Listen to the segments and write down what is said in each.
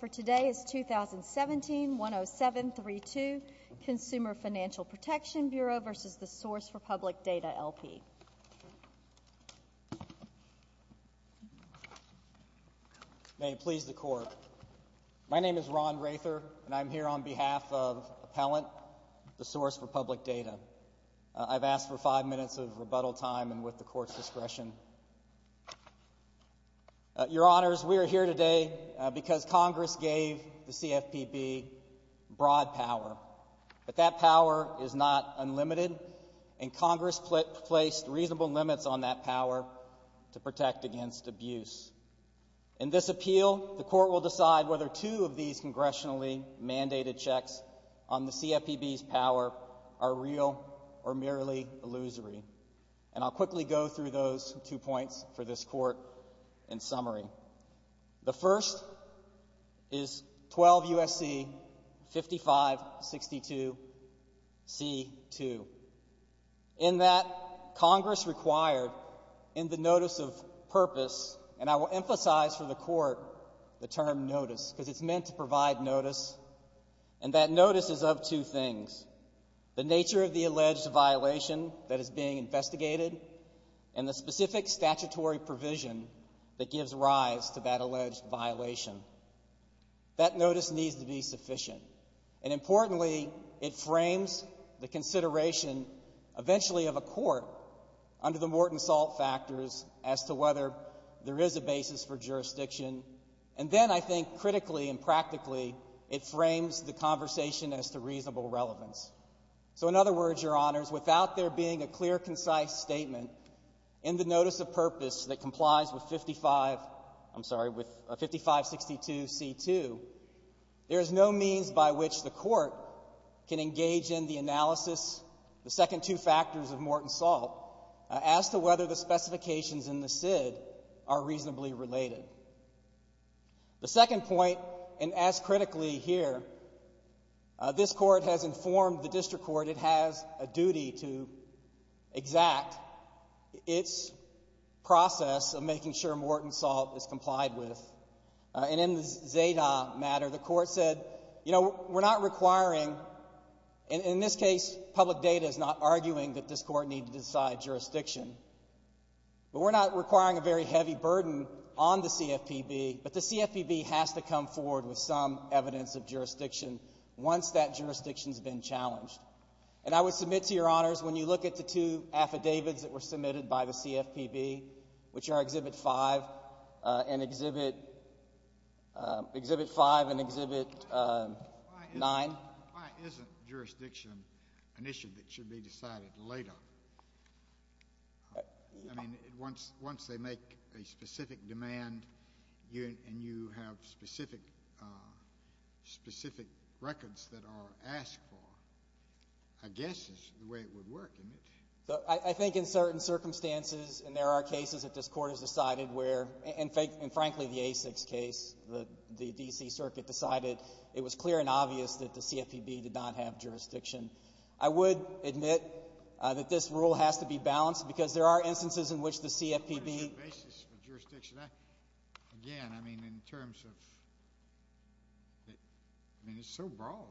2017 10732 Consumer Financial Protection Bureau v. Source for Public Data, LP. May it please the Court. My name is Ron Rather, and I'm here on behalf of Appellant, the Source for Public Data. I've asked for five minutes of rebuttal time and with the Court's discretion. Your Honors, we are here today because Congress gave the CFPB broad power. But that power is not unlimited, and Congress placed reasonable limits on that power to protect against abuse. In this appeal, the Court will decide whether two of these congressionally mandated checks on the CFPB's power are real or merely illusory. And I'll quickly go through those two points for this Court in summary. The first is 12 U.S.C. 5562 C.2. In that, Congress required in the notice of purpose, and I will emphasize for the Court the term notice because it's meant to provide notice, and that notice is of two things. The nature of the alleged violation that is being investigated and the specific statutory provision that gives rise to that alleged violation. That notice needs to be sufficient. And importantly, it frames the consideration eventually of a court under the Morton Salt factors as to whether there is a basis for jurisdiction. And then I think critically and practically, it frames the conversation as to reasonable relevance. So in other words, Your Honors, without there being a clear, concise statement in the notice of purpose that complies with 55, I'm sorry, with 5562 C.2, there is no means by which the Court can engage in the analysis, the second two factors of Morton Salt, as to whether the specifications in the SID are reasonably related. The second point, and as critically here, this Court has informed the District Court it has a duty to exact its process of making sure Morton Salt is complied with. And in the Zeta matter, the Court said, you know, we're not requiring, and in this case, public data is not arguing that this Court need to decide jurisdiction, but we're not requiring a very heavy burden on the CFPB. But the CFPB has to come forward with some evidence of jurisdiction once that jurisdiction has been challenged. And I would submit to Your Honors, when you look at the two affidavits that were submitted by the CFPB, which are Exhibit 5 and Exhibit 9. Why isn't jurisdiction an issue that should be decided later? I mean, once they make a specific demand and you have specific records that are asked for, I guess is the way it would work, isn't it? I think in certain circumstances, and there are cases that this Court has decided where, and frankly, the A6 case, the D.C. Circuit decided it was clear and obvious that the CFPB did not have jurisdiction. I would admit that this rule has to be balanced, because there are instances in which the CFPB What is your basis for jurisdiction? Again, I mean, in terms of, I mean, it's so broad.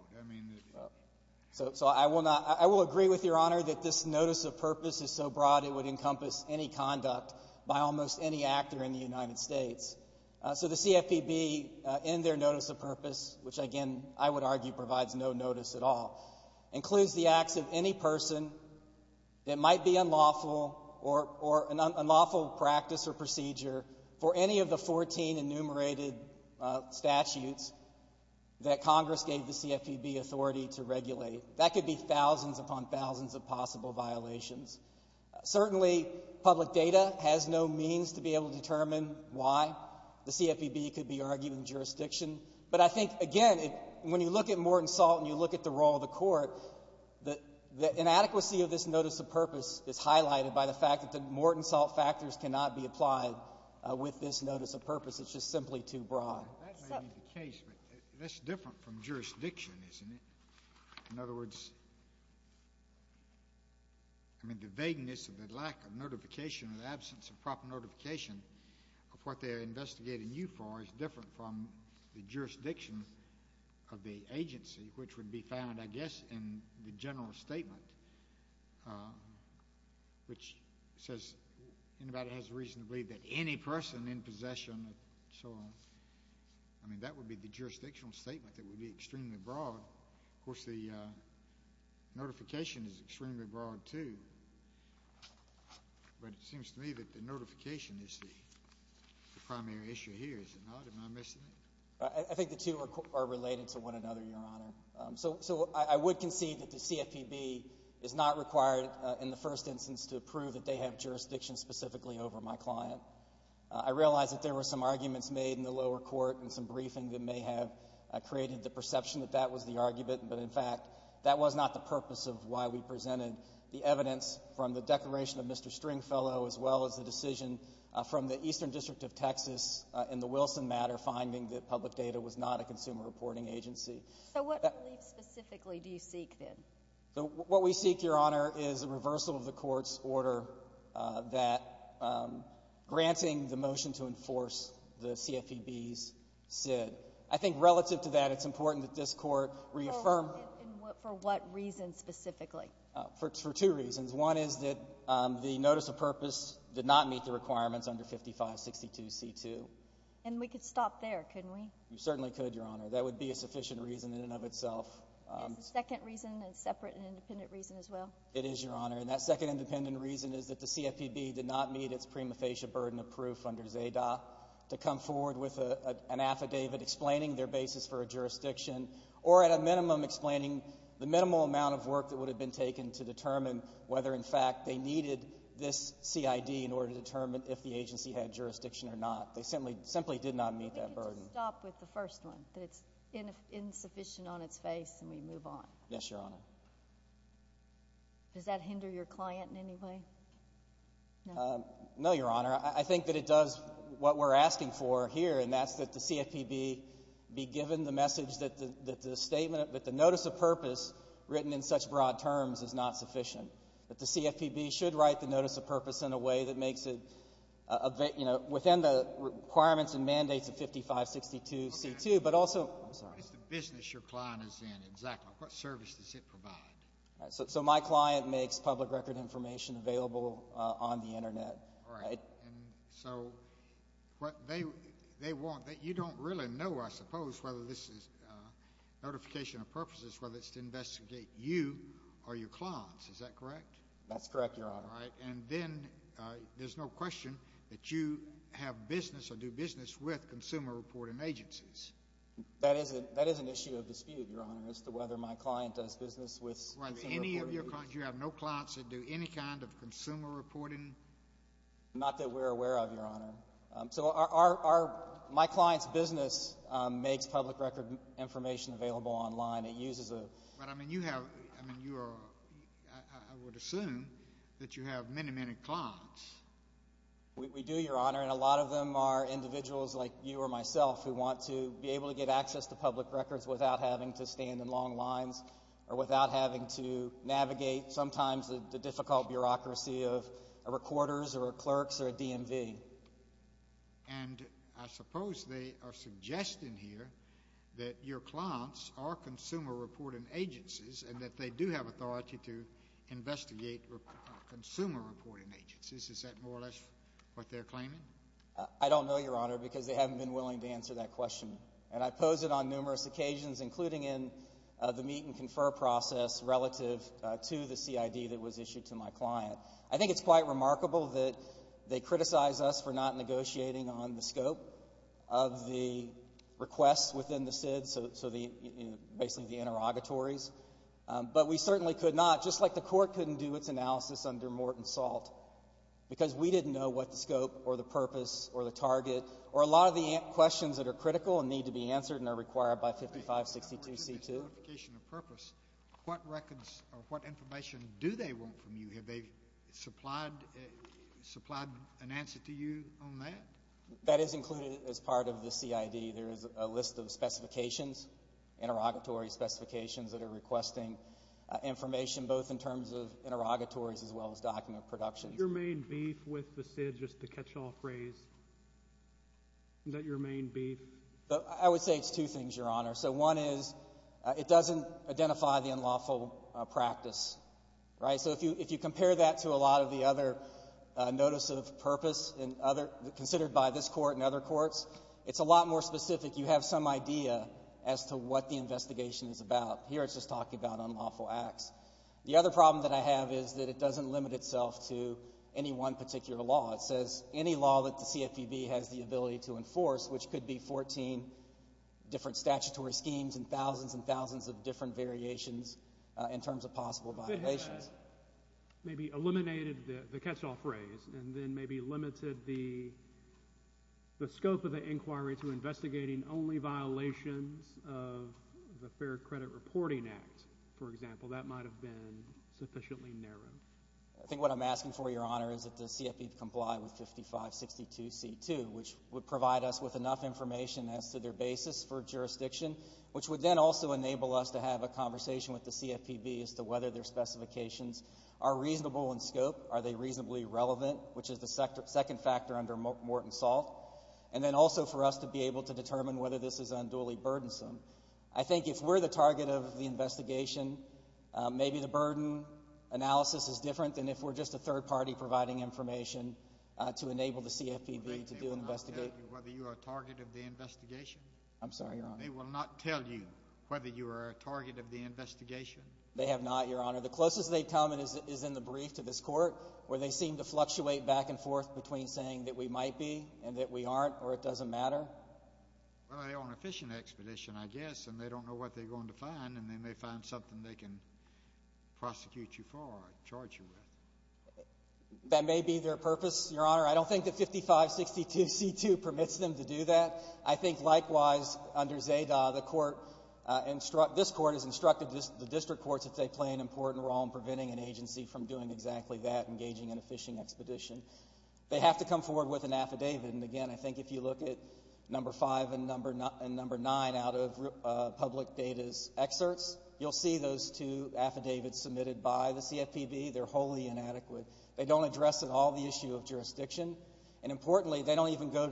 I will agree with Your Honor that this notice of purpose is so broad it would encompass any conduct by almost any actor in the United States. So the CFPB, in their notice of purpose, which again, I would argue, provides no notice at all. It includes the acts of any person that might be unlawful or an unlawful practice or procedure for any of the 14 enumerated statutes that Congress gave the CFPB authority to regulate. That could be thousands upon thousands of possible violations. Certainly, public data has no means to be able to determine why the CFPB could be arguing jurisdiction. But I think, again, when you look at Morton Salt and you look at the role of the Court, the inadequacy of this notice of purpose is highlighted by the fact that the Morton Salt factors cannot be applied with this notice of purpose. It's just simply too broad. That may be the case, but that's different from jurisdiction, isn't it? In other words, I mean, the vagueness of the lack of notification or the absence of proper notification of what they are investigating you for is different from the jurisdiction of the agency, which would be found, I guess, in the general statement, which says anybody has a reason to believe that any person in possession and so on, I mean, that would be the jurisdictional statement that would be extremely broad. Of course, the notification is extremely broad, too. But it seems to me that the notification is the primary issue here, is it not? Am I missing it? I think the two are related to one another, Your Honor. So I would concede that the CFPB is not required in the first instance to prove that they have jurisdiction specifically over my client. I realize that there were some arguments made in the lower court and some briefing that may have created the perception that that was the argument, but in fact, that was not the purpose of why we presented the evidence from the declaration of Mr. Stringfellow as well as the decision from the Eastern District of Texas in the Wilson matter finding that public data was not a consumer reporting agency. So what belief specifically do you seek, then? What we seek, Your Honor, is a reversal of the court's order that granting the motion to enforce the CFPB's SID. I think relative to that, it's important that this court reaffirm. And for what reason specifically? For two reasons. One is that the notice of purpose did not meet the requirements under 5562C2. And we could stop there, couldn't we? You certainly could, Your Honor. That would be a sufficient reason in and of itself. Is the second reason a separate and independent reason as well? It is, Your Honor. And that second independent reason is that the CFPB did not meet its prima facie burden of proof under ZADA to come forward with an affidavit explaining their basis for a jurisdiction or at a minimum explaining the minimal amount of work that would have been taken to determine whether in fact they needed this CID in order to determine if the agency had jurisdiction or not. They simply did not meet that burden. We need to stop with the first one, that it's insufficient on its face and we move on. Yes, Your Honor. Does that hinder your client in any way? No, Your Honor. I think that it does what we're asking for here, and that's that the CFPB be given the message that the statement, that the notice of purpose written in such broad terms is not sufficient, that the CFPB should write the notice of purpose in a way that makes it, you know, within the requirements and mandates of 5562C2, but also— It's the business your client is in, exactly. What service does it provide? So my client makes public record information available on the Internet. All right. And so what they want—you don't really know, I suppose, whether this is notification of purposes, whether it's to investigate you or your clients. Is that correct? That's correct, Your Honor. All right. And then there's no question that you have business or do business with consumer reporting agencies. That is an issue of dispute, Your Honor, as to whether my client does business with— With any of your clients. You have no clients that do any kind of consumer reporting? Not that we're aware of, Your Honor. So our—my client's business makes public record information available online. It uses a— But, I mean, you have—I mean, you are—I would assume that you have many, many clients. We do, Your Honor, and a lot of them are individuals like you or myself who want to be able to get access to public records without having to stand in long lines or without having to navigate sometimes the difficult bureaucracy of a recorder's or a clerk's or a DMV. And I suppose they are suggesting here that your clients are consumer reporting agencies and that they do have authority to investigate consumer reporting agencies. Is that more or less what they're claiming? I don't know, Your Honor, because they haven't been willing to answer that question. And I pose it on numerous occasions, including in the meet and confer process relative to the CID that was issued to my client. I think it's quite remarkable that they criticize us for not negotiating on the scope of the requests within the SID, so the—basically the interrogatories. But we certainly could not, just like the Court couldn't do its analysis under Morton Salt, because we didn't know what the scope or the purpose or the target or a lot of the questions that are critical and need to be answered and are required by 5562C2. I'm looking at this notification of purpose. What records or what information do they want from you? Have they supplied an answer to you on that? That is included as part of the CID. There is a list of specifications, interrogatory specifications, that are requesting information, both in terms of interrogatories as well as document production. Is that your main beef with the CID, just to catch all praise? Is that your main beef? I would say it's two things, Your Honor. So one is it doesn't identify the unlawful practice, right? So if you compare that to a lot of the other notice of purpose considered by this Court and other courts, it's a lot more specific. You have some idea as to what the investigation is about. Here it's just talking about unlawful acts. The other problem that I have is that it doesn't limit itself to any one particular law. It says any law that the CFPB has the ability to enforce, which could be 14 different statutory schemes and thousands and thousands of different variations in terms of possible violations. It has maybe eliminated the catch-all phrase and then maybe limited the scope of the inquiry to investigating only violations of the Fair Credit Reporting Act, for example. That might have been sufficiently narrow. I think what I'm asking for, Your Honor, is that the CFPB comply with 5562C2, which would provide us with enough information as to their basis for jurisdiction, which would then also enable us to have a conversation with the CFPB as to whether their specifications are reasonable in scope, are they reasonably relevant, which is the second factor under Morton Salt, and then also for us to be able to determine whether this is unduly burdensome. I think if we're the target of the investigation, maybe the burden analysis is different than if we're just a third party providing information to enable the CFPB to do an investigation. They will not tell you whether you are a target of the investigation? I'm sorry, Your Honor. They will not tell you whether you are a target of the investigation? They have not, Your Honor. The closest they've come is in the brief to this Court, where they seem to fluctuate back and forth between saying that we might be and that we aren't or it doesn't matter. Well, they're on a fishing expedition, I guess, and they don't know what they're going to find, and they may find something they can prosecute you for or charge you with. That may be their purpose, Your Honor. I don't think that 5562C2 permits them to do that. I think, likewise, under ZADA, the Court instructs the district courts if they play an important role in preventing an agency from doing exactly that, engaging in a fishing expedition. They have to come forward with an affidavit. And again, I think if you look at No. 5 and No. 9 out of public data's excerpts, you'll see those two affidavits submitted by the CFPB. They're wholly inadequate. They don't address at all the issue of jurisdiction. And importantly, they don't even go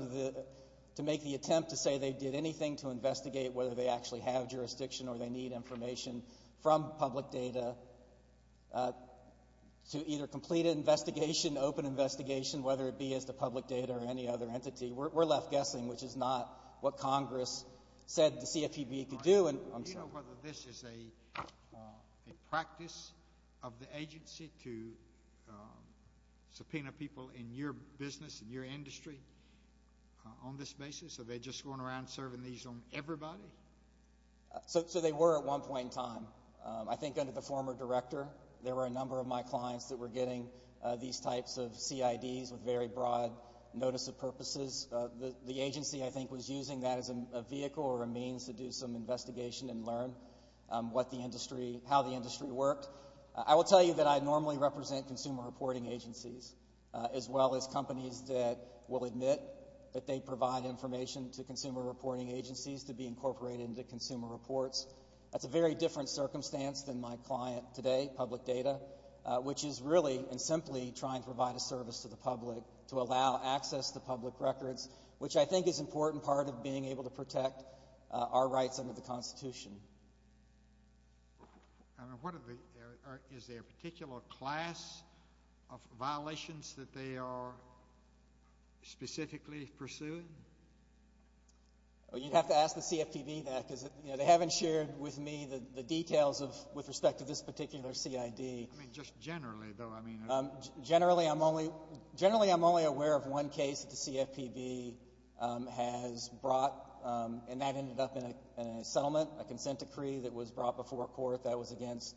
to make the attempt to say they did anything to investigate whether they actually have jurisdiction or they need information from public data to either complete an investigation, open investigation, whether it be as to public data or any other entity. We're left guessing, which is not what Congress said the CFPB could do. Do you know whether this is a practice of the agency to subpoena people in your business, in your industry, on this basis? Are they just going around serving these on everybody? So they were at one point in time. I think under the former director, there were a number of my clients that were getting these types of CIDs with very broad notice of purposes. The agency, I think, was using that as a vehicle or a means to do some investigation and learn how the industry worked. I will tell you that I normally represent consumer reporting agencies, as well as companies that will admit that they provide information to consumer reporting agencies to be incorporated into consumer reports. That's a very different circumstance than my client today, public data, which is really and simply trying to provide a service to the public to allow access to public records, which I think is an important part of being able to protect our rights under the Constitution. Is there a particular class of violations that they are specifically pursuing? You'd have to ask the CFPB that, because they haven't shared with me the details with respect to this particular CID. Just generally, though. Generally, I'm only aware of one case that the CFPB has brought, and that ended up in a settlement, a consent decree that was brought before court. That was against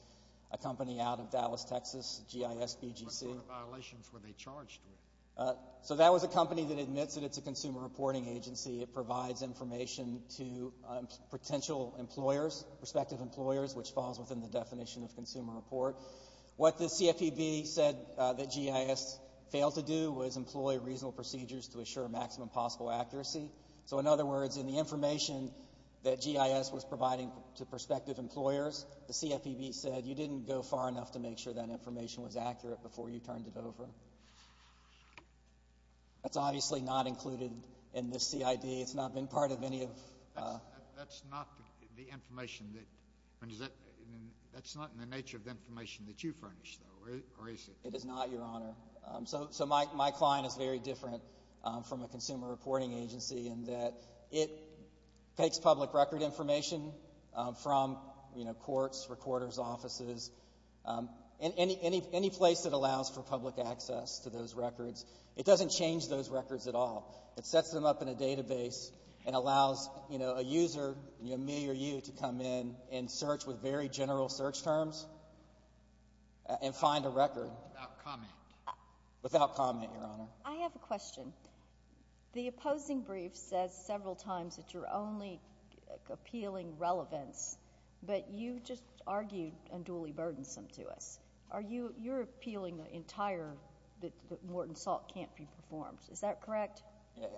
a company out of Dallas, Texas, GISBGC. What sort of violations were they charged with? So that was a company that admits that it's a consumer reporting agency. It provides information to potential employers, prospective employers, which falls within the definition of consumer report. What the CFPB said that GIS failed to do was employ reasonable procedures to assure maximum possible accuracy. So, in other words, in the information that GIS was providing to prospective employers, the CFPB said you didn't go far enough to make sure that information was accurate before you turned it over. That's obviously not included in this CID. It's not been part of any of the information. That's not in the nature of the information that you furnished, though, or is it? It is not, Your Honor. So my client is very different from a consumer reporting agency in that it takes public record information from courts, recorders' offices, any place that allows for public access to those records. It doesn't change those records at all. It sets them up in a database and allows a user, me or you, to come in and search with very general search terms and find a record. Without comment. Without comment, Your Honor. I have a question. The opposing brief says several times that you're only appealing relevance, but you just argued unduly burdensome to us. You're appealing the entire that Morton Salt can't be performed. Is that correct?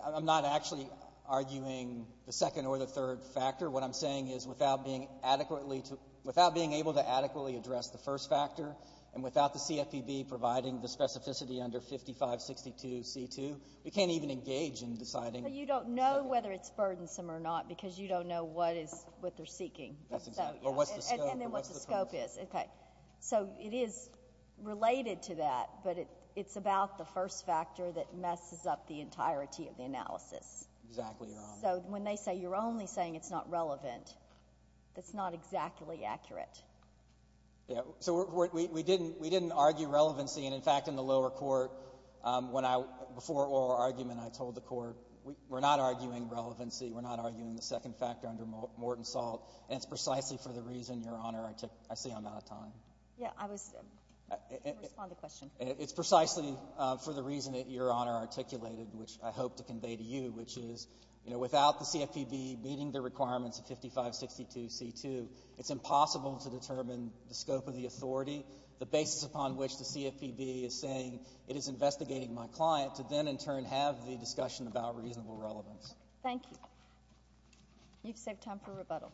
I'm not actually arguing the second or the third factor. What I'm saying is without being able to adequately address the first factor and without the CFPB providing the specificity under 5562C2, we can't even engage in deciding. But you don't know whether it's burdensome or not because you don't know what they're seeking. That's exactly right. Or what's the scope. And then what the scope is. So it is related to that, but it's about the first factor that messes up the entirety of the analysis. Exactly, Your Honor. So when they say you're only saying it's not relevant, that's not exactly accurate. Yeah, so we didn't argue relevancy. And, in fact, in the lower court, before oral argument, I told the court, we're not arguing relevancy. We're not arguing the second factor under Morton Salt. And it's precisely for the reason, Your Honor, I see I'm out of time. Yeah, I was going to respond to the question. It's precisely for the reason that Your Honor articulated, which I hope to convey to you, which is without the CFPB meeting the requirements of 5562C2, it's impossible to determine the scope of the authority, the basis upon which the CFPB is saying it is investigating my client, to then, in turn, have the discussion about reasonable relevance. Thank you. You've saved time for rebuttal.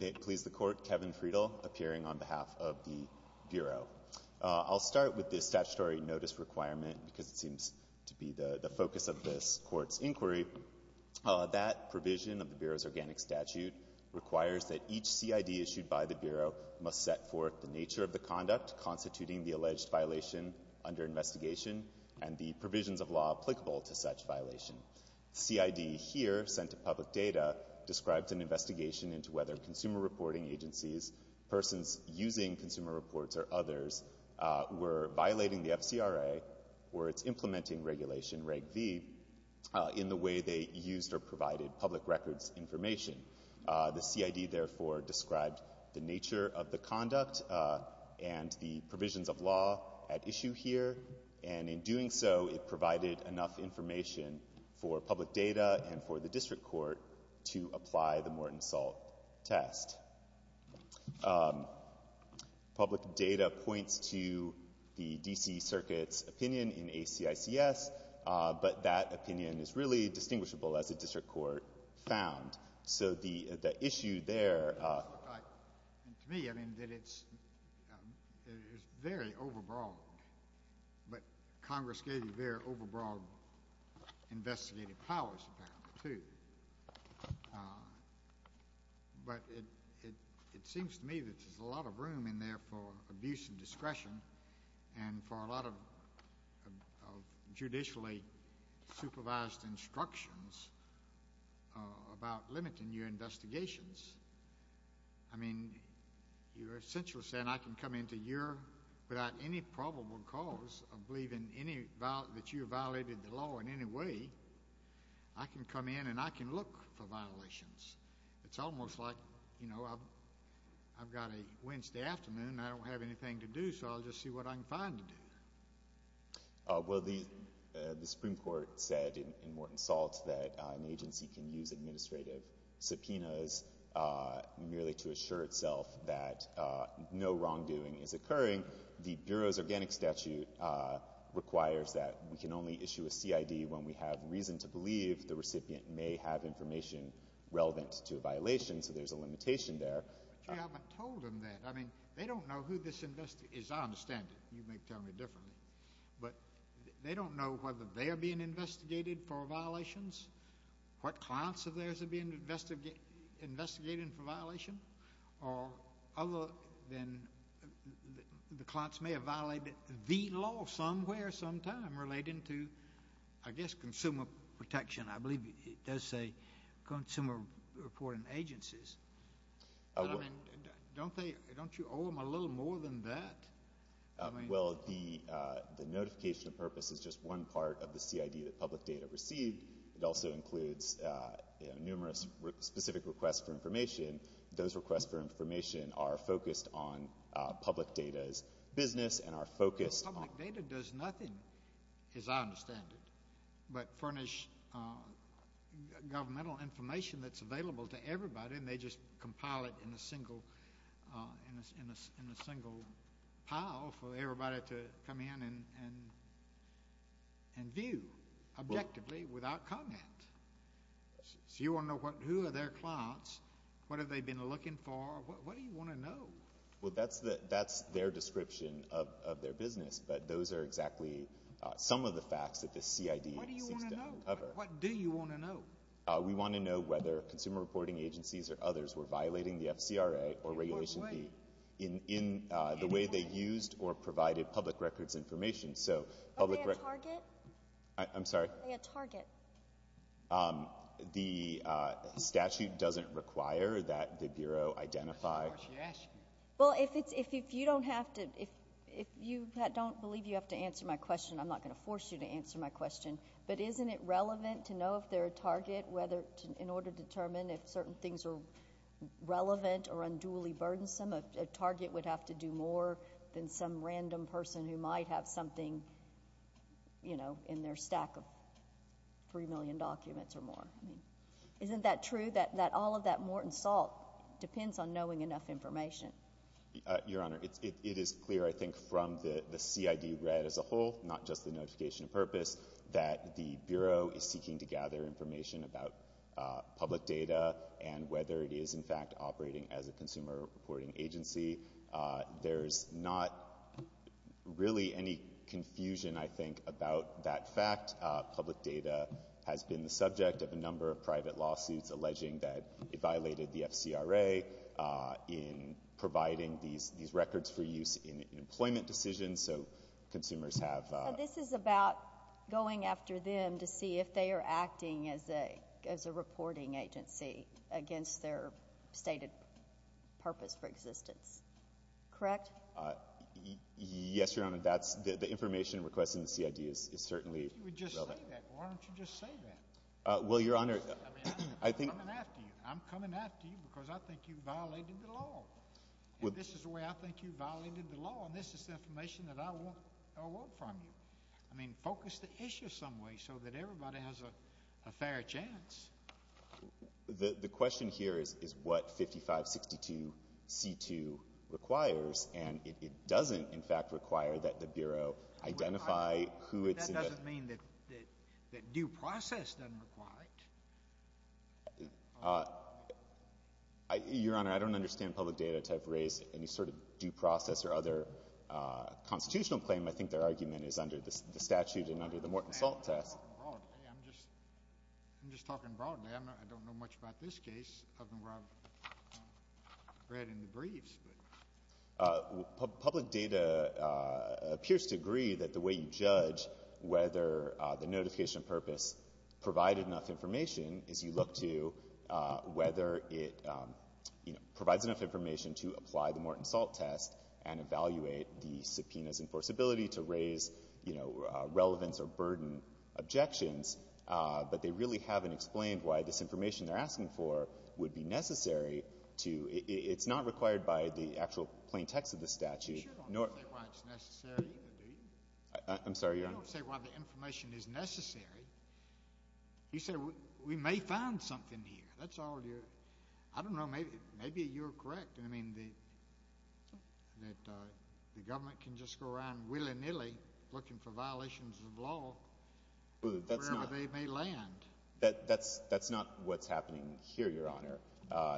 May it please the Court, Kevin Friedel, appearing on behalf of the Bureau. I'll start with this statutory notice requirement because it seems to be the focus of this Court's inquiry. That provision of the Bureau's organic statute requires that each CID issued by the Bureau must set forth the nature of the conduct constituting the alleged violation under investigation and the provisions of law applicable to such violations. The CID here, sent to public data, described an investigation into whether consumer reporting agencies, persons using consumer reports or others, were violating the FCRA or its implementing regulation, Reg V, in the way they used or provided public records information. The CID, therefore, described the nature of the conduct and the provisions of law at issue here, and in doing so, it provided enough information for public data and for the district court to apply the Morton Salt test. Public data points to the D.C. Circuit's opinion in ACICS, but that opinion is really distinguishable, as the district court found. So the issue there... To me, I mean, it's very overbroad, but Congress gave you very overbroad investigative powers, apparently, too. But it seems to me that there's a lot of room in there for abuse of discretion and for a lot of judicially supervised instructions about limiting your investigations. I mean, you're essentially saying I can come in without any probable cause of believing that you violated the law in any way. I can come in and I can look for violations. It's almost like, you know, I've got a Wednesday afternoon and I don't have anything to do, so I'll just see what I can find to do. Well, the Supreme Court said in Morton Salt that an agency can use administrative subpoenas merely to assure itself that no wrongdoing is occurring. The Bureau's Organic Statute requires that we can only issue a CID when we have reason to believe the recipient may have information relevant to a violation, so there's a limitation there. But you haven't told them that. I mean, they don't know who this investigator is. I understand it. You may tell me differently. But they don't know whether they're being investigated for violations, what clients of theirs are being investigated for violation, or other than the clients may have violated the law somewhere sometime relating to, I guess, consumer protection. I believe it does say consumer reporting agencies. Don't you owe them a little more than that? Well, the notification of purpose is just one part of the CID that public data received. It also includes numerous specific requests for information. Those requests for information are focused on public data's business and are focused on... Public data does nothing, as I understand it, but furnish governmental information that's available to everybody and they just compile it in a single pile for everybody to come in and view, objectively, without comment. So you want to know who are their clients, what have they been looking for, what do you want to know? Well, that's their description of their business, but those are exactly some of the facts that the CID seeks to uncover. What do you want to know? We want to know whether consumer reporting agencies or others were violating the FCRA or Regulation B in the way they used or provided public records information. Are they a target? I'm sorry? Are they a target? The statute doesn't require that the Bureau identify... Well, if you don't believe you have to answer my question, I'm not going to force you to answer my question, but isn't it relevant to know if they're a target in order to determine if certain things are relevant or unduly burdensome? A target would have to do more than some random person who might have something in their stack of 3 million documents or more. Isn't that true, that all of that mort and salt depends on knowing enough information? Your Honor, it is clear, I think, from the CID red as a whole, not just the notification of purpose, that the Bureau is seeking to gather information about public data and whether it is, in fact, operating as a consumer reporting agency. There's not really any confusion, I think, about that fact. Public data has been the subject of a number of private lawsuits alleging that it violated the FCRA in providing these records for use in employment decisions, so consumers have... This is about going after them to see if they are acting as a reporting agency against their stated purpose for existence, correct? Yes, Your Honor. The information requested in the CID is certainly relevant. If you would just say that, why don't you just say that? Well, Your Honor, I think... I'm coming after you. I'm coming after you because I think you violated the law. And this is the way I think you violated the law. And this is the information that I want from you. I mean, focus the issue some way so that everybody has a fair chance. The question here is what 5562C2 requires, and it doesn't, in fact, require that the Bureau identify who it's... That doesn't mean that due process doesn't require it. Your Honor, I don't understand public data to have raised any sort of due process or other constitutional claim. I think their argument is under the statute and under the Morton Salt Test. I'm just talking broadly. I don't know much about this case other than what I've read in the briefs. Public data appears to agree that the way you judge whether the notification of purpose provided enough information is you look to whether it provides enough information to apply the Morton Salt Test and evaluate the subpoena's enforceability to raise relevance or burden objections. But they really haven't explained why this information they're asking for would be necessary to... It's not required by the actual plain text of the statute. You sure don't say why it's necessary either, do you? I'm sorry, Your Honor. You don't say why the information is necessary. You say we may find something here. That's all you're... I don't know. Maybe you're correct. I mean, the government can just go around willy-nilly looking for violations of law wherever they may land. That's not what's happening here, Your Honor.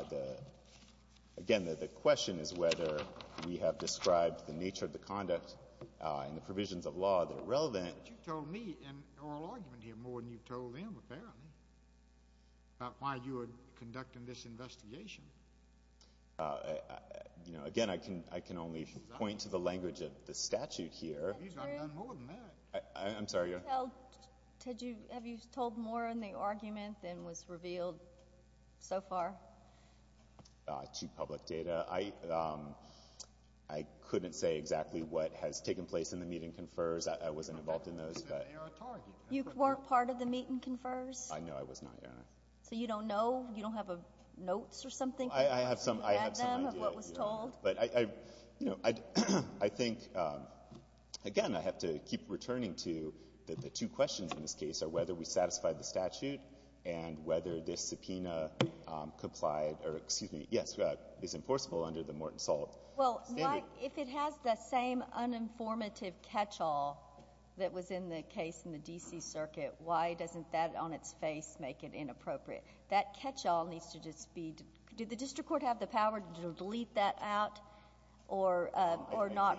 Again, the question is whether we have described the nature of the conduct and the provisions of law that are relevant. But you've told me an oral argument here more than you've told them, apparently, about why you are conducting this investigation. Again, I can only point to the language of the statute here. You've got none more than that. I'm sorry, Your Honor. Have you told more in the argument than was revealed so far? To public data. I couldn't say exactly what has taken place in the meeting confers. I wasn't involved in those. You weren't part of the meeting confers? No, I was not, Your Honor. So you don't know? You don't have notes or something? I have some idea. You read them of what was told? But I think, again, I have to keep returning to the two questions in this case are whether we satisfied the statute and whether this subpoena complied or, excuse me, yes, is enforceable under the Morton Salt standard. Well, Mike, if it has the same uninformative catch-all that was in the case in the D.C. Circuit, why doesn't that on its face make it inappropriate? That catch-all needs to just be did the district court have the power to delete that out or not?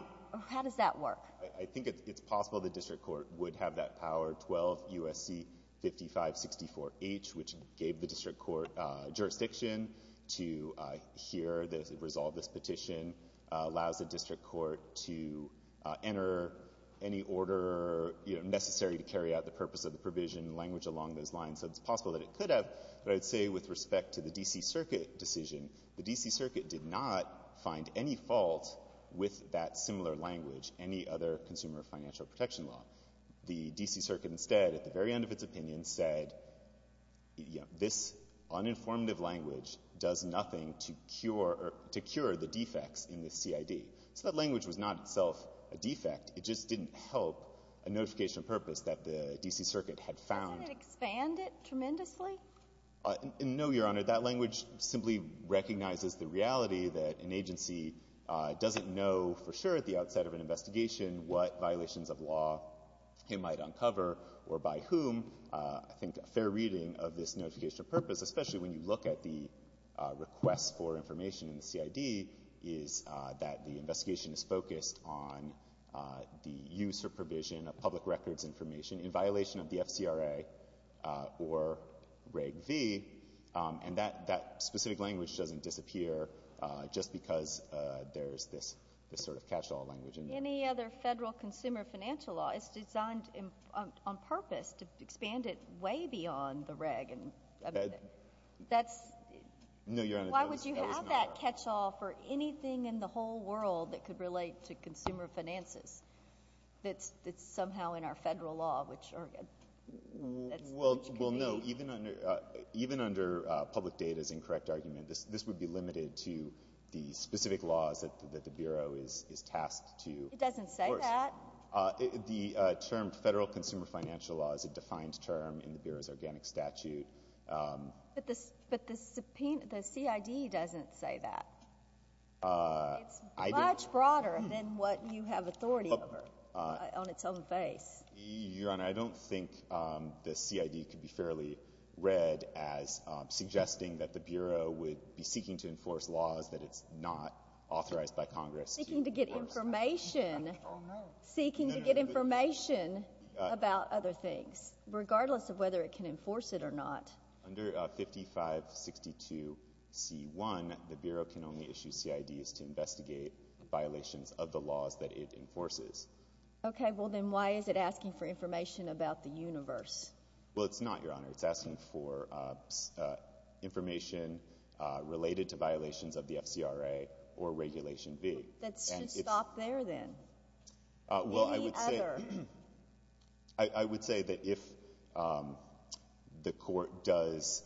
How does that work? I think it's possible the district court would have that power, 12 U.S.C. 5564H, which gave the district court jurisdiction to hear the resolve of this petition, allows the district court to enter any order necessary to carry out the purpose of the provision, language along those lines. So it's possible that it could have. But I would say with respect to the D.C. Circuit decision, the D.C. Circuit did not find any fault with that similar language, any other consumer financial protection law. The D.C. Circuit instead at the very end of its opinion said, you know, this uninformative language does nothing to cure the defects in the CID. So that language was not itself a defect. It just didn't help a notification of purpose that the D.C. Circuit had found. Doesn't it expand it tremendously? No, Your Honor. That language simply recognizes the reality that an agency doesn't know for sure at the outset of an investigation what violations of law it might uncover or by whom. I think a fair reading of this notification of purpose, especially when you look at the request for information in the CID, is that the investigation is focused on the use or provision of public records information in violation of the FCRA or Reg V. And that specific language doesn't disappear just because there's this sort of catch-all language in there. Any other federal consumer financial law is designed on purpose to expand it way beyond the Reg. I mean, that's— No, Your Honor. Why would you have that catch-all for anything in the whole world that could relate to consumer finances that's somehow in our federal law, which— Well, no. Even under public data's incorrect argument, this would be limited to the specific laws that the Bureau is tasked to— It doesn't say that. Of course. The term federal consumer financial law is a defined term in the Bureau's organic statute. But the CID doesn't say that. It's much broader than what you have authority over on its own face. Your Honor, I don't think the CID could be fairly read as suggesting that the Bureau would be seeking to enforce laws that it's not authorized by Congress to enforce. Seeking to get information. Oh, no. Seeking to get information about other things, regardless of whether it can enforce it or not. Under 5562c1, the Bureau can only issue CIDs to investigate violations of the laws that it enforces. Okay. Well, then why is it asking for information about the universe? Well, it's not, Your Honor. It's asking for information related to violations of the FCRA or Regulation V. That should stop there, then. Well, I would say— Any other. I would say that if the court does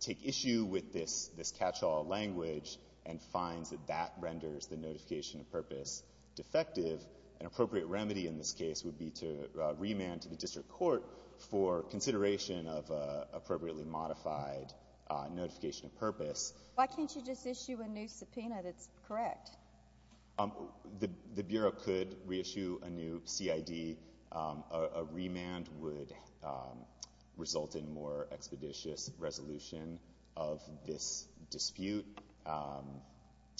take issue with this catch-all language and finds that that renders the notification of purpose defective, an appropriate remedy in this case would be to remand to the district court for consideration of appropriately modified notification of purpose. Why can't you just issue a new subpoena that's correct? The Bureau could reissue a new CID. A remand would result in more expeditious resolution of this dispute,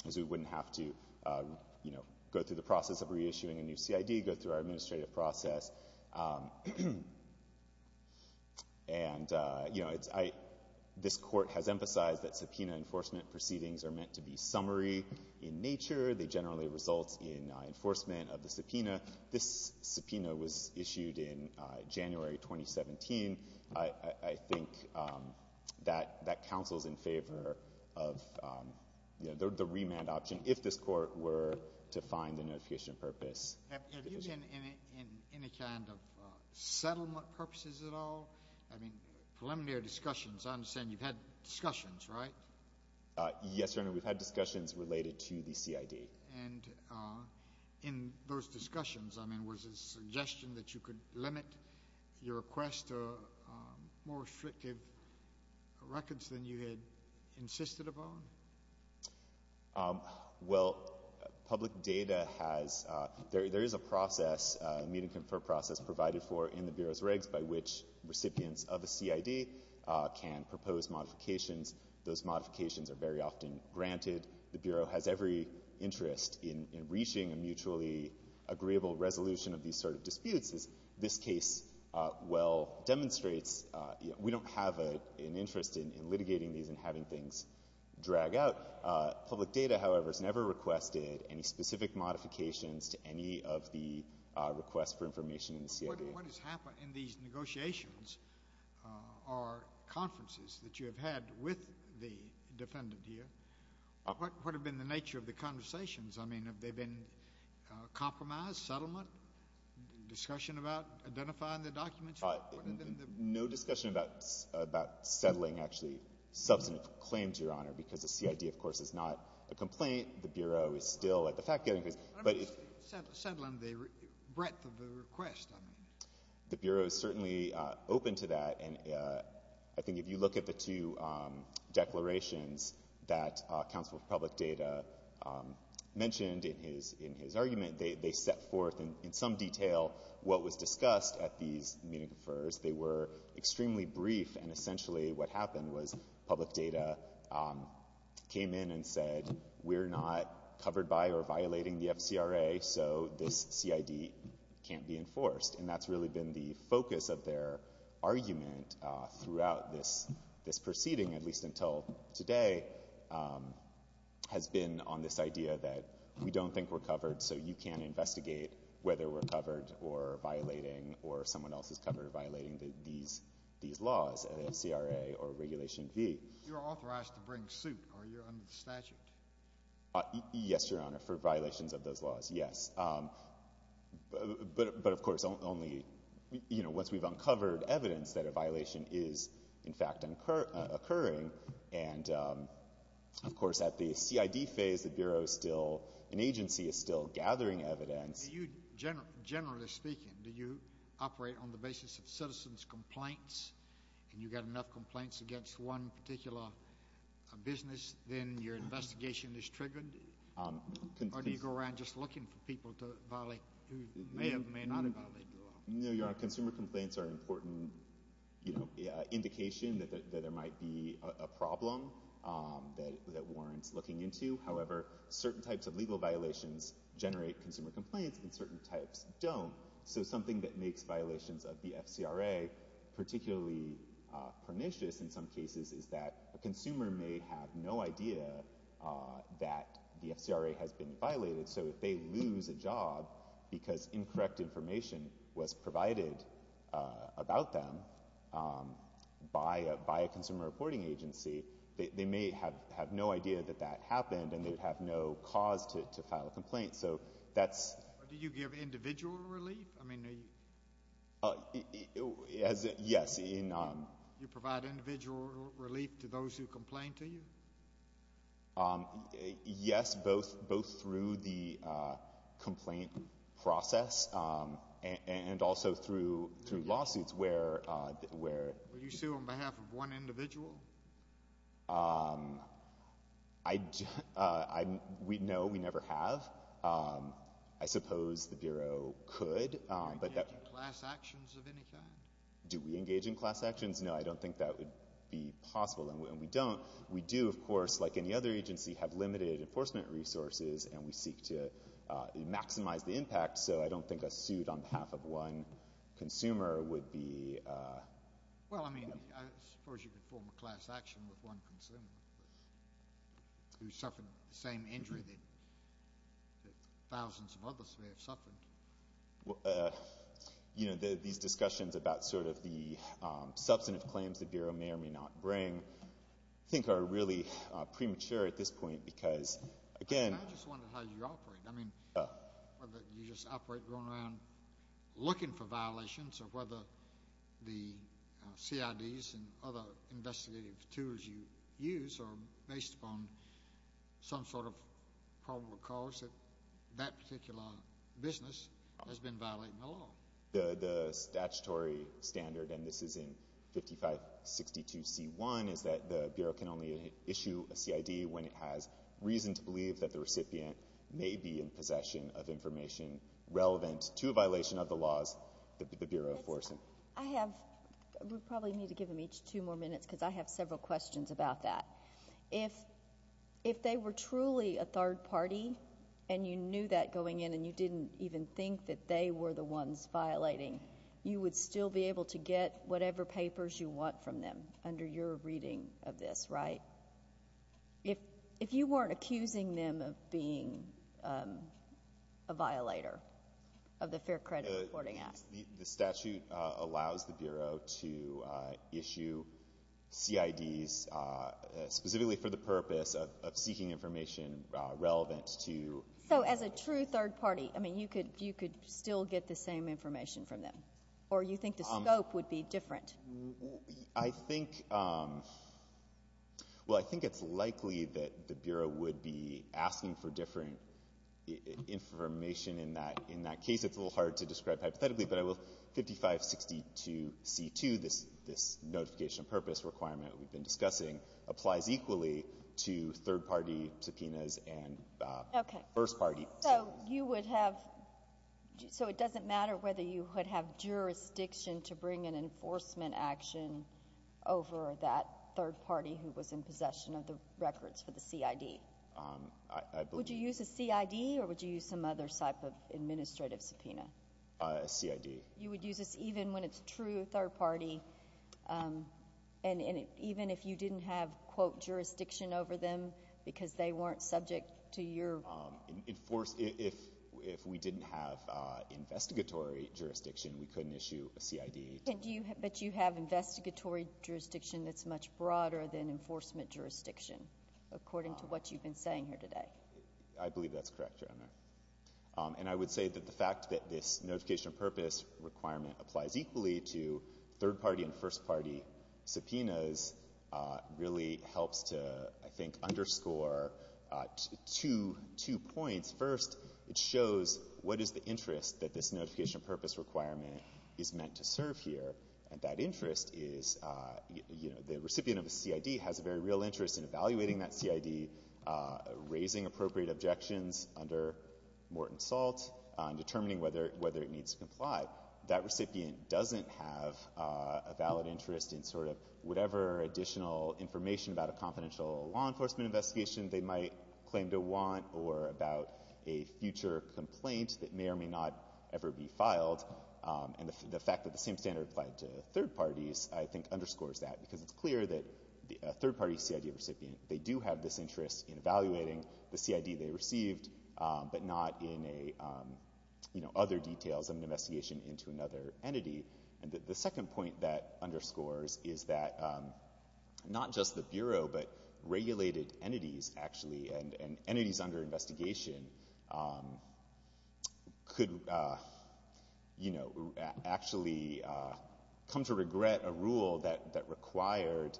as we wouldn't have to go through the process of reissuing a new CID, go through our administrative process. And this Court has emphasized that subpoena enforcement proceedings are meant to be summary in nature. They generally result in enforcement of the subpoena. This subpoena was issued in January 2017. I think that counsel is in favor of the remand option if this Court were to find the notification of purpose. Have you been in any kind of settlement purposes at all? I mean, preliminary discussions. I understand you've had discussions, right? Yes, Your Honor. We've had discussions related to the CID. And in those discussions, I mean, was it a suggestion that you could limit your request to more restrictive records than you had insisted upon? Well, public data has — there is a process, a meet-and-confer process provided for in the Bureau's regs by which recipients of a CID can propose modifications. Those modifications are very often granted. The Bureau has every interest in reaching a mutually agreeable resolution of these sort of disputes. As this case well demonstrates, we don't have an interest in litigating these and having things drag out. Public data, however, has never requested any specific modifications to any of the requests for information in the CID. What has happened in these negotiations or conferences that you have had with the defendant here? What has been the nature of the conversations? I mean, have they been compromised, settlement, discussion about identifying the documents? No discussion about settling actually substantive claims, Your Honor, because the CID, of course, is not a complaint. The Bureau is still at the fact-gathering phase. Settling the breadth of the request, I mean. The Bureau is certainly open to that, and I think if you look at the two declarations that Counsel for Public Data mentioned in his argument, they set forth in some detail what was discussed at these meet-and-confers. They were extremely brief, and essentially what happened was public data came in and said, we're not covered by or violating the FCRA, so this CID can't be enforced. And that's really been the focus of their argument throughout this proceeding, at least until today, has been on this idea that we don't think we're covered, so you can't investigate whether we're covered or violating or someone else is covered or violating these laws at FCRA or Regulation V. You're authorized to bring suit, are you, under the statute? Yes, Your Honor, for violations of those laws, yes. But, of course, only, you know, once we've uncovered evidence that a violation is, in fact, occurring. And, of course, at the CID phase, the Bureau is still, an agency is still gathering evidence. Do you, generally speaking, do you operate on the basis of citizens' complaints and you've got enough complaints against one particular business, then your investigation is triggered? Or do you go around just looking for people to violate, who may or may not have violated the law? No, Your Honor, consumer complaints are an important, you know, indication that there might be a problem that warrants looking into. However, certain types of legal violations generate consumer complaints and certain types don't. So something that makes violations of the FCRA particularly pernicious in some cases is that a consumer may have no idea that the FCRA has been violated. So if they lose a job because incorrect information was provided about them by a consumer reporting agency, they may have no idea that that happened and they'd have no cause to file a complaint. Do you give individual relief? Yes. Do you provide individual relief to those who complain to you? Yes, both through the complaint process and also through lawsuits. Do you sue on behalf of one individual? No, we never have. I suppose the Bureau could. Do you engage in class actions of any kind? Do we engage in class actions? No, I don't think that would be possible, and we don't. We do, of course, like any other agency, have limited enforcement resources and we seek to maximize the impact, so I don't think a suit on behalf of one consumer would be— Well, I mean, I suppose you could form a class action with one consumer who suffered the same injury that thousands of others may have suffered. You know, these discussions about sort of the substantive claims the Bureau may or may not bring I think are really premature at this point because, again— I just wonder how you operate. I mean, whether you just operate going around looking for violations or whether the CIDs and other investigative tools you use are based upon some sort of probable cause that that particular business has been violating the law. The statutory standard, and this is in 5562C1, is that the Bureau can only issue a CID when it has reason to believe that the recipient may be in possession of information relevant to a violation of the laws that the Bureau enforces. I have—we probably need to give them each two more minutes because I have several questions about that. If they were truly a third party and you knew that going in and you didn't even think that they were the ones violating, you would still be able to get whatever papers you want from them under your reading of this, right? If you weren't accusing them of being a violator of the Fair Credit Reporting Act. The statute allows the Bureau to issue CIDs specifically for the purpose of seeking information relevant to— So as a true third party, I mean, you could still get the same information from them, or you think the scope would be different? I think—well, I think it's likely that the Bureau would be asking for different information in that case. It's a little hard to describe hypothetically, but I will—5562C2, this notification of purpose requirement we've been discussing, applies equally to third party subpoenas and first party. So you would have—so it doesn't matter whether you would have jurisdiction to bring an enforcement action over that third party who was in possession of the records for the CID? I believe— Would you use a CID or would you use some other type of administrative subpoena? A CID. You would use this even when it's a true third party, and even if you didn't have, quote, jurisdiction over them because they weren't subject to your— if we didn't have investigatory jurisdiction, we couldn't issue a CID. But you have investigatory jurisdiction that's much broader than enforcement jurisdiction, according to what you've been saying here today. I believe that's correct, Your Honor. And I would say that the fact that this notification of purpose requirement applies equally to third party and first party subpoenas really helps to, I think, underscore two points. First, it shows what is the interest that this notification of purpose requirement is meant to serve here, and that interest is, you know, the recipient of the CID has a very real interest in evaluating that CID, raising appropriate objections under Morton Salt, determining whether it needs to comply. That recipient doesn't have a valid interest in sort of whatever additional information about a confidential law enforcement investigation they might claim to want or about a future complaint that may or may not ever be filed. And the fact that the same standard applied to third parties, I think, underscores that because it's clear that a third party CID recipient, they do have this interest in evaluating the CID they received, but not in, you know, other details of an investigation into another entity. And the second point that underscores is that not just the Bureau, but regulated entities, actually, and entities under investigation could, you know, actually come to regret a rule that required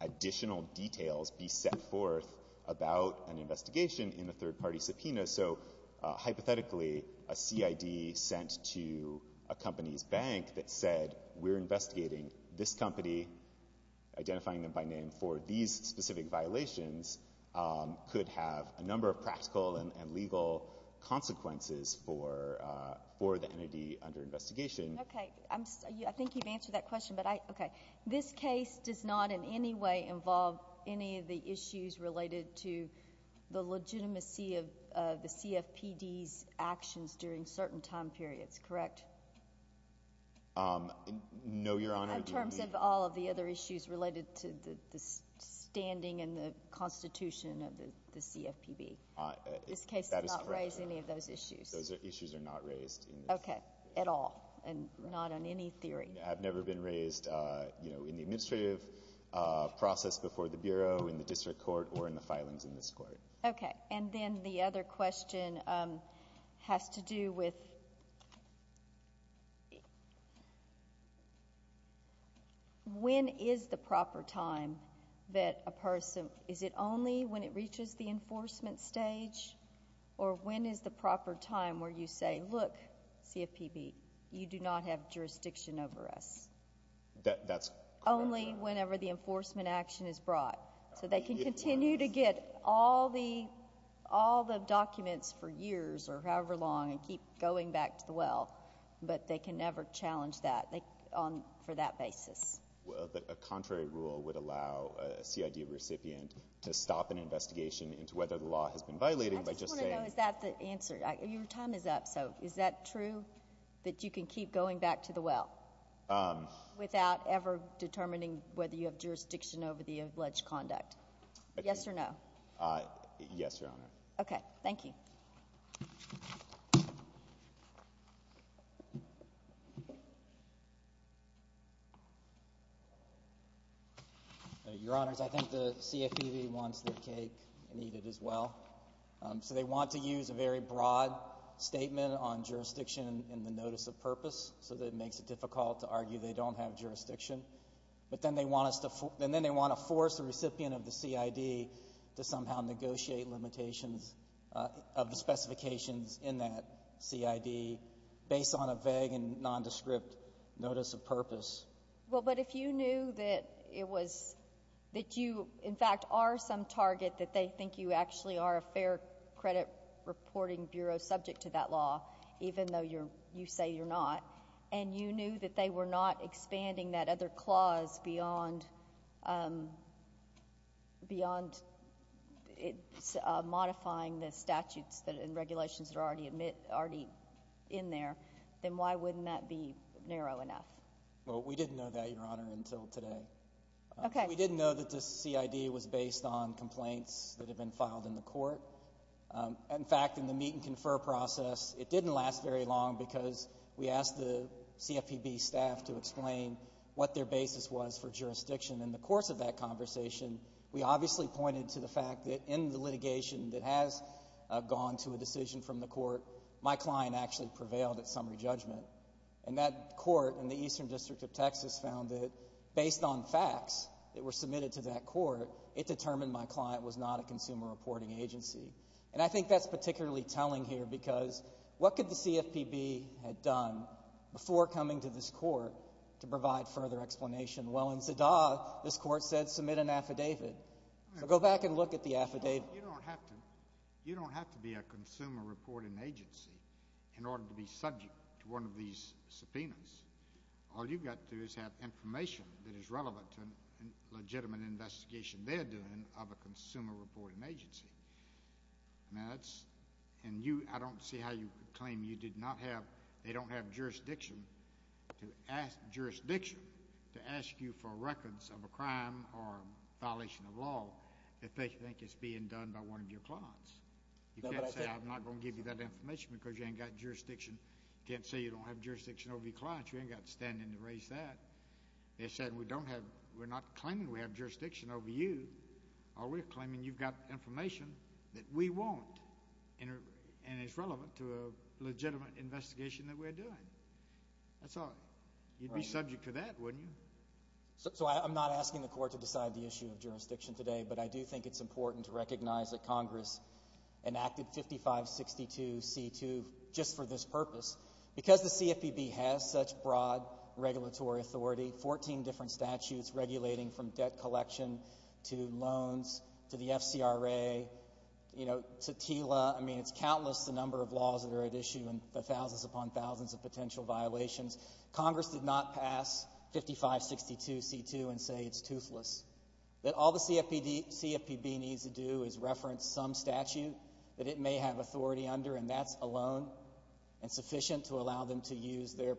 additional details be set forth about an investigation in a third party subpoena. So, hypothetically, a CID sent to a company's bank that said, we're investigating this company, identifying them by name for these specific violations, could have a number of practical and legal consequences for the entity under investigation. Okay. I think you've answered that question, but I, okay. This case does not in any way involve any of the issues related to the legitimacy of the CFPB's actions during certain time periods, correct? No, Your Honor. In terms of all of the other issues related to the standing and the constitution of the CFPB. This case does not raise any of those issues. Those issues are not raised in this case. Okay. At all. And not on any theory. I've never been raised, you know, in the administrative process before the Bureau, in the district court, or in the filings in this court. Okay. And then the other question has to do with when is the proper time that a person, is it only when it reaches the enforcement stage, or when is the proper time where you say, look, CFPB, you do not have jurisdiction over us? That's correct, Your Honor. Only whenever the enforcement action is brought. So they can continue to get all the documents for years or however long and keep going back to the well, but they can never challenge that for that basis. Well, a contrary rule would allow a CID recipient to stop an investigation into whether the law has been violated by just saying. I just want to know, is that the answer? Your time is up, so is that true, that you can keep going back to the well without ever determining whether you have jurisdiction over the alleged conduct? Yes or no? Yes, Your Honor. Okay. Thank you. Your Honors, I think the CFPB wants their cake and eat it as well. So they want to use a very broad statement on jurisdiction in the notice of purpose so that it makes it difficult to argue they don't have jurisdiction. But then they want to force the recipient of the CID to somehow negotiate limitations of the specifications in that CID based on a vague and nondescript notice of purpose. Well, but if you knew that you, in fact, are some target, that they think you actually are a fair credit reporting bureau subject to that law, even though you say you're not, and you knew that they were not expanding that other clause beyond modifying the statutes and regulations that are already in there, then why wouldn't that be narrow enough? Well, we didn't know that, Your Honor, until today. Okay. We didn't know that the CID was based on complaints that had been filed in the court. In fact, in the meet and confer process, it didn't last very long because we asked the CFPB staff to explain what their basis was for jurisdiction. In the course of that conversation, we obviously pointed to the fact that in the litigation that has gone to a decision from the court, my client actually prevailed at summary judgment. And that court in the Eastern District of Texas found that, based on facts that were submitted to that court, it determined my client was not a consumer reporting agency. And I think that's particularly telling here because what could the CFPB have done before coming to this court to provide further explanation? Well, in Zadah, this court said submit an affidavit. So go back and look at the affidavit. You don't have to be a consumer reporting agency in order to be subject to one of these subpoenas. All you've got to do is have information that is relevant to a legitimate investigation they're doing of a consumer reporting agency. And I don't see how you could claim they don't have jurisdiction to ask you for records of a crime or a violation of law if they think it's being done by one of your clients. You can't say I'm not going to give you that information because you ain't got jurisdiction. You can't say you don't have jurisdiction over your clients. You ain't got standing to raise that. They said we're not claiming we have jurisdiction over you. We're claiming you've got information that we want and it's relevant to a legitimate investigation that we're doing. That's all. You'd be subject to that, wouldn't you? So I'm not asking the court to decide the issue of jurisdiction today, but I do think it's important to recognize that Congress enacted 5562C2 just for this purpose. Because the CFPB has such broad regulatory authority, 14 different statutes regulating from debt collection to loans to the FCRA to TILA, I mean, it's countless the number of laws that are at issue and the thousands upon thousands of potential violations. Congress did not pass 5562C2 and say it's toothless, that all the CFPB needs to do is reference some statute that it may have authority under, and that's alone and sufficient to allow them to use their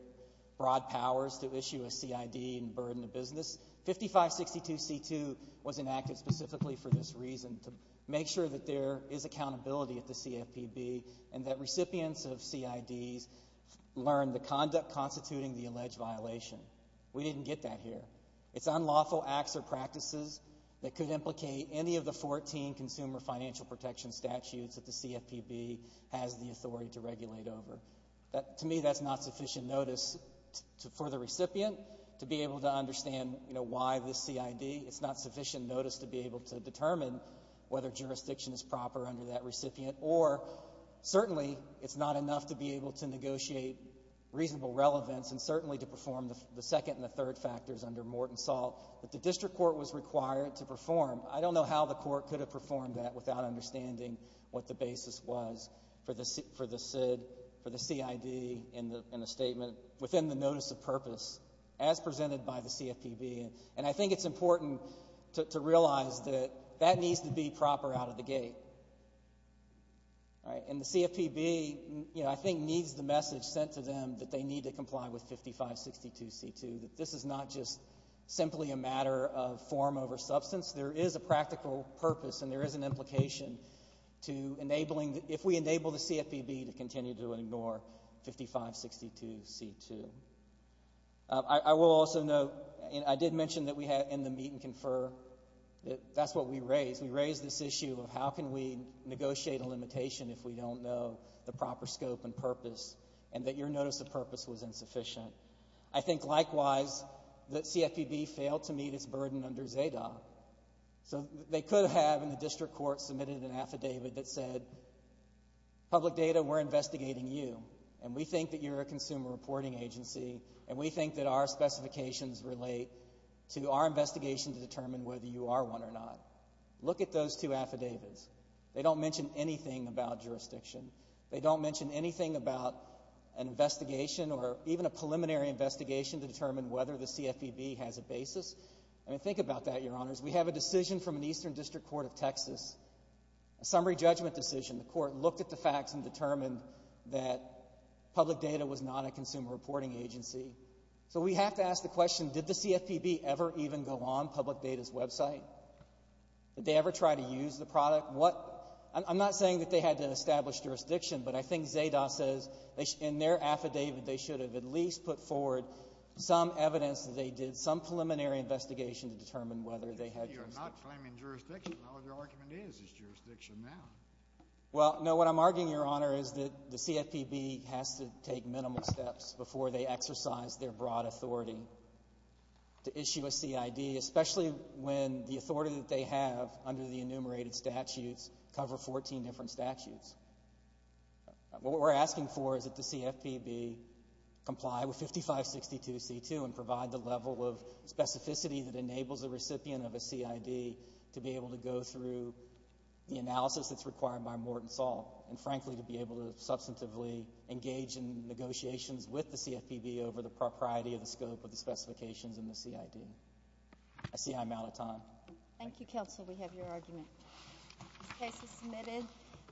broad powers to issue a CID and burden the business. 5562C2 was enacted specifically for this reason, to make sure that there is accountability at the CFPB and that recipients of CIDs learn the conduct constituting the alleged violation. We didn't get that here. It's unlawful acts or practices that could implicate any of the 14 consumer financial protection statutes that the CFPB has the authority to regulate over. To me, that's not sufficient notice for the recipient to be able to understand, you know, why this CID. It's not sufficient notice to be able to determine whether jurisdiction is proper under that recipient or certainly it's not enough to be able to negotiate reasonable relevance and certainly to perform the second and the third factors under Morton Salt that the district court was required to perform. I don't know how the court could have performed that without understanding what the basis was for the CID and the statement within the notice of purpose as presented by the CFPB. And I think it's important to realize that that needs to be proper out of the gate. And the CFPB, you know, I think needs the message sent to them that they need to comply with 5562C2, that this is not just simply a matter of form over substance. There is a practical purpose and there is an implication to enabling, if we enable the CFPB to continue to ignore 5562C2. I will also note, and I did mention that we had in the meet and confer, that's what we raised. We raised this issue of how can we negotiate a limitation if we don't know the proper scope and purpose and that your notice of purpose was insufficient. I think, likewise, that CFPB failed to meet its burden under ZADA. So they could have, in the district court, submitted an affidavit that said, public data, we're investigating you, and we think that you're a consumer reporting agency, and we think that our specifications relate to our investigation to determine whether you are one or not. Look at those two affidavits. They don't mention anything about jurisdiction. They don't mention anything about an investigation or even a preliminary investigation to determine whether the CFPB has a basis. I mean, think about that, Your Honors. We have a decision from an eastern district court of Texas, a summary judgment decision. The court looked at the facts and determined that public data was not a consumer reporting agency. So we have to ask the question, did the CFPB ever even go on public data's website? Did they ever try to use the product? I'm not saying that they had to establish jurisdiction, but I think ZADA says in their affidavit they should have at least put forward some evidence that they did some preliminary investigation to determine whether they had jurisdiction. You're not claiming jurisdiction. All your argument is is jurisdiction now. Well, no, what I'm arguing, Your Honor, is that the CFPB has to take minimal steps before they exercise their broad authority to issue a CID, especially when the authority that they have under the enumerated statutes cover 14 different statutes. What we're asking for is that the CFPB comply with 5562C2 and provide the level of specificity that enables a recipient of a CID to be able to go through the analysis that's required by Morton Salt and, frankly, to be able to substantively engage in negotiations with the CFPB over the propriety of the scope of the specifications in the CID. I see I'm out of time. Thank you, counsel. We have your argument. This case is submitted.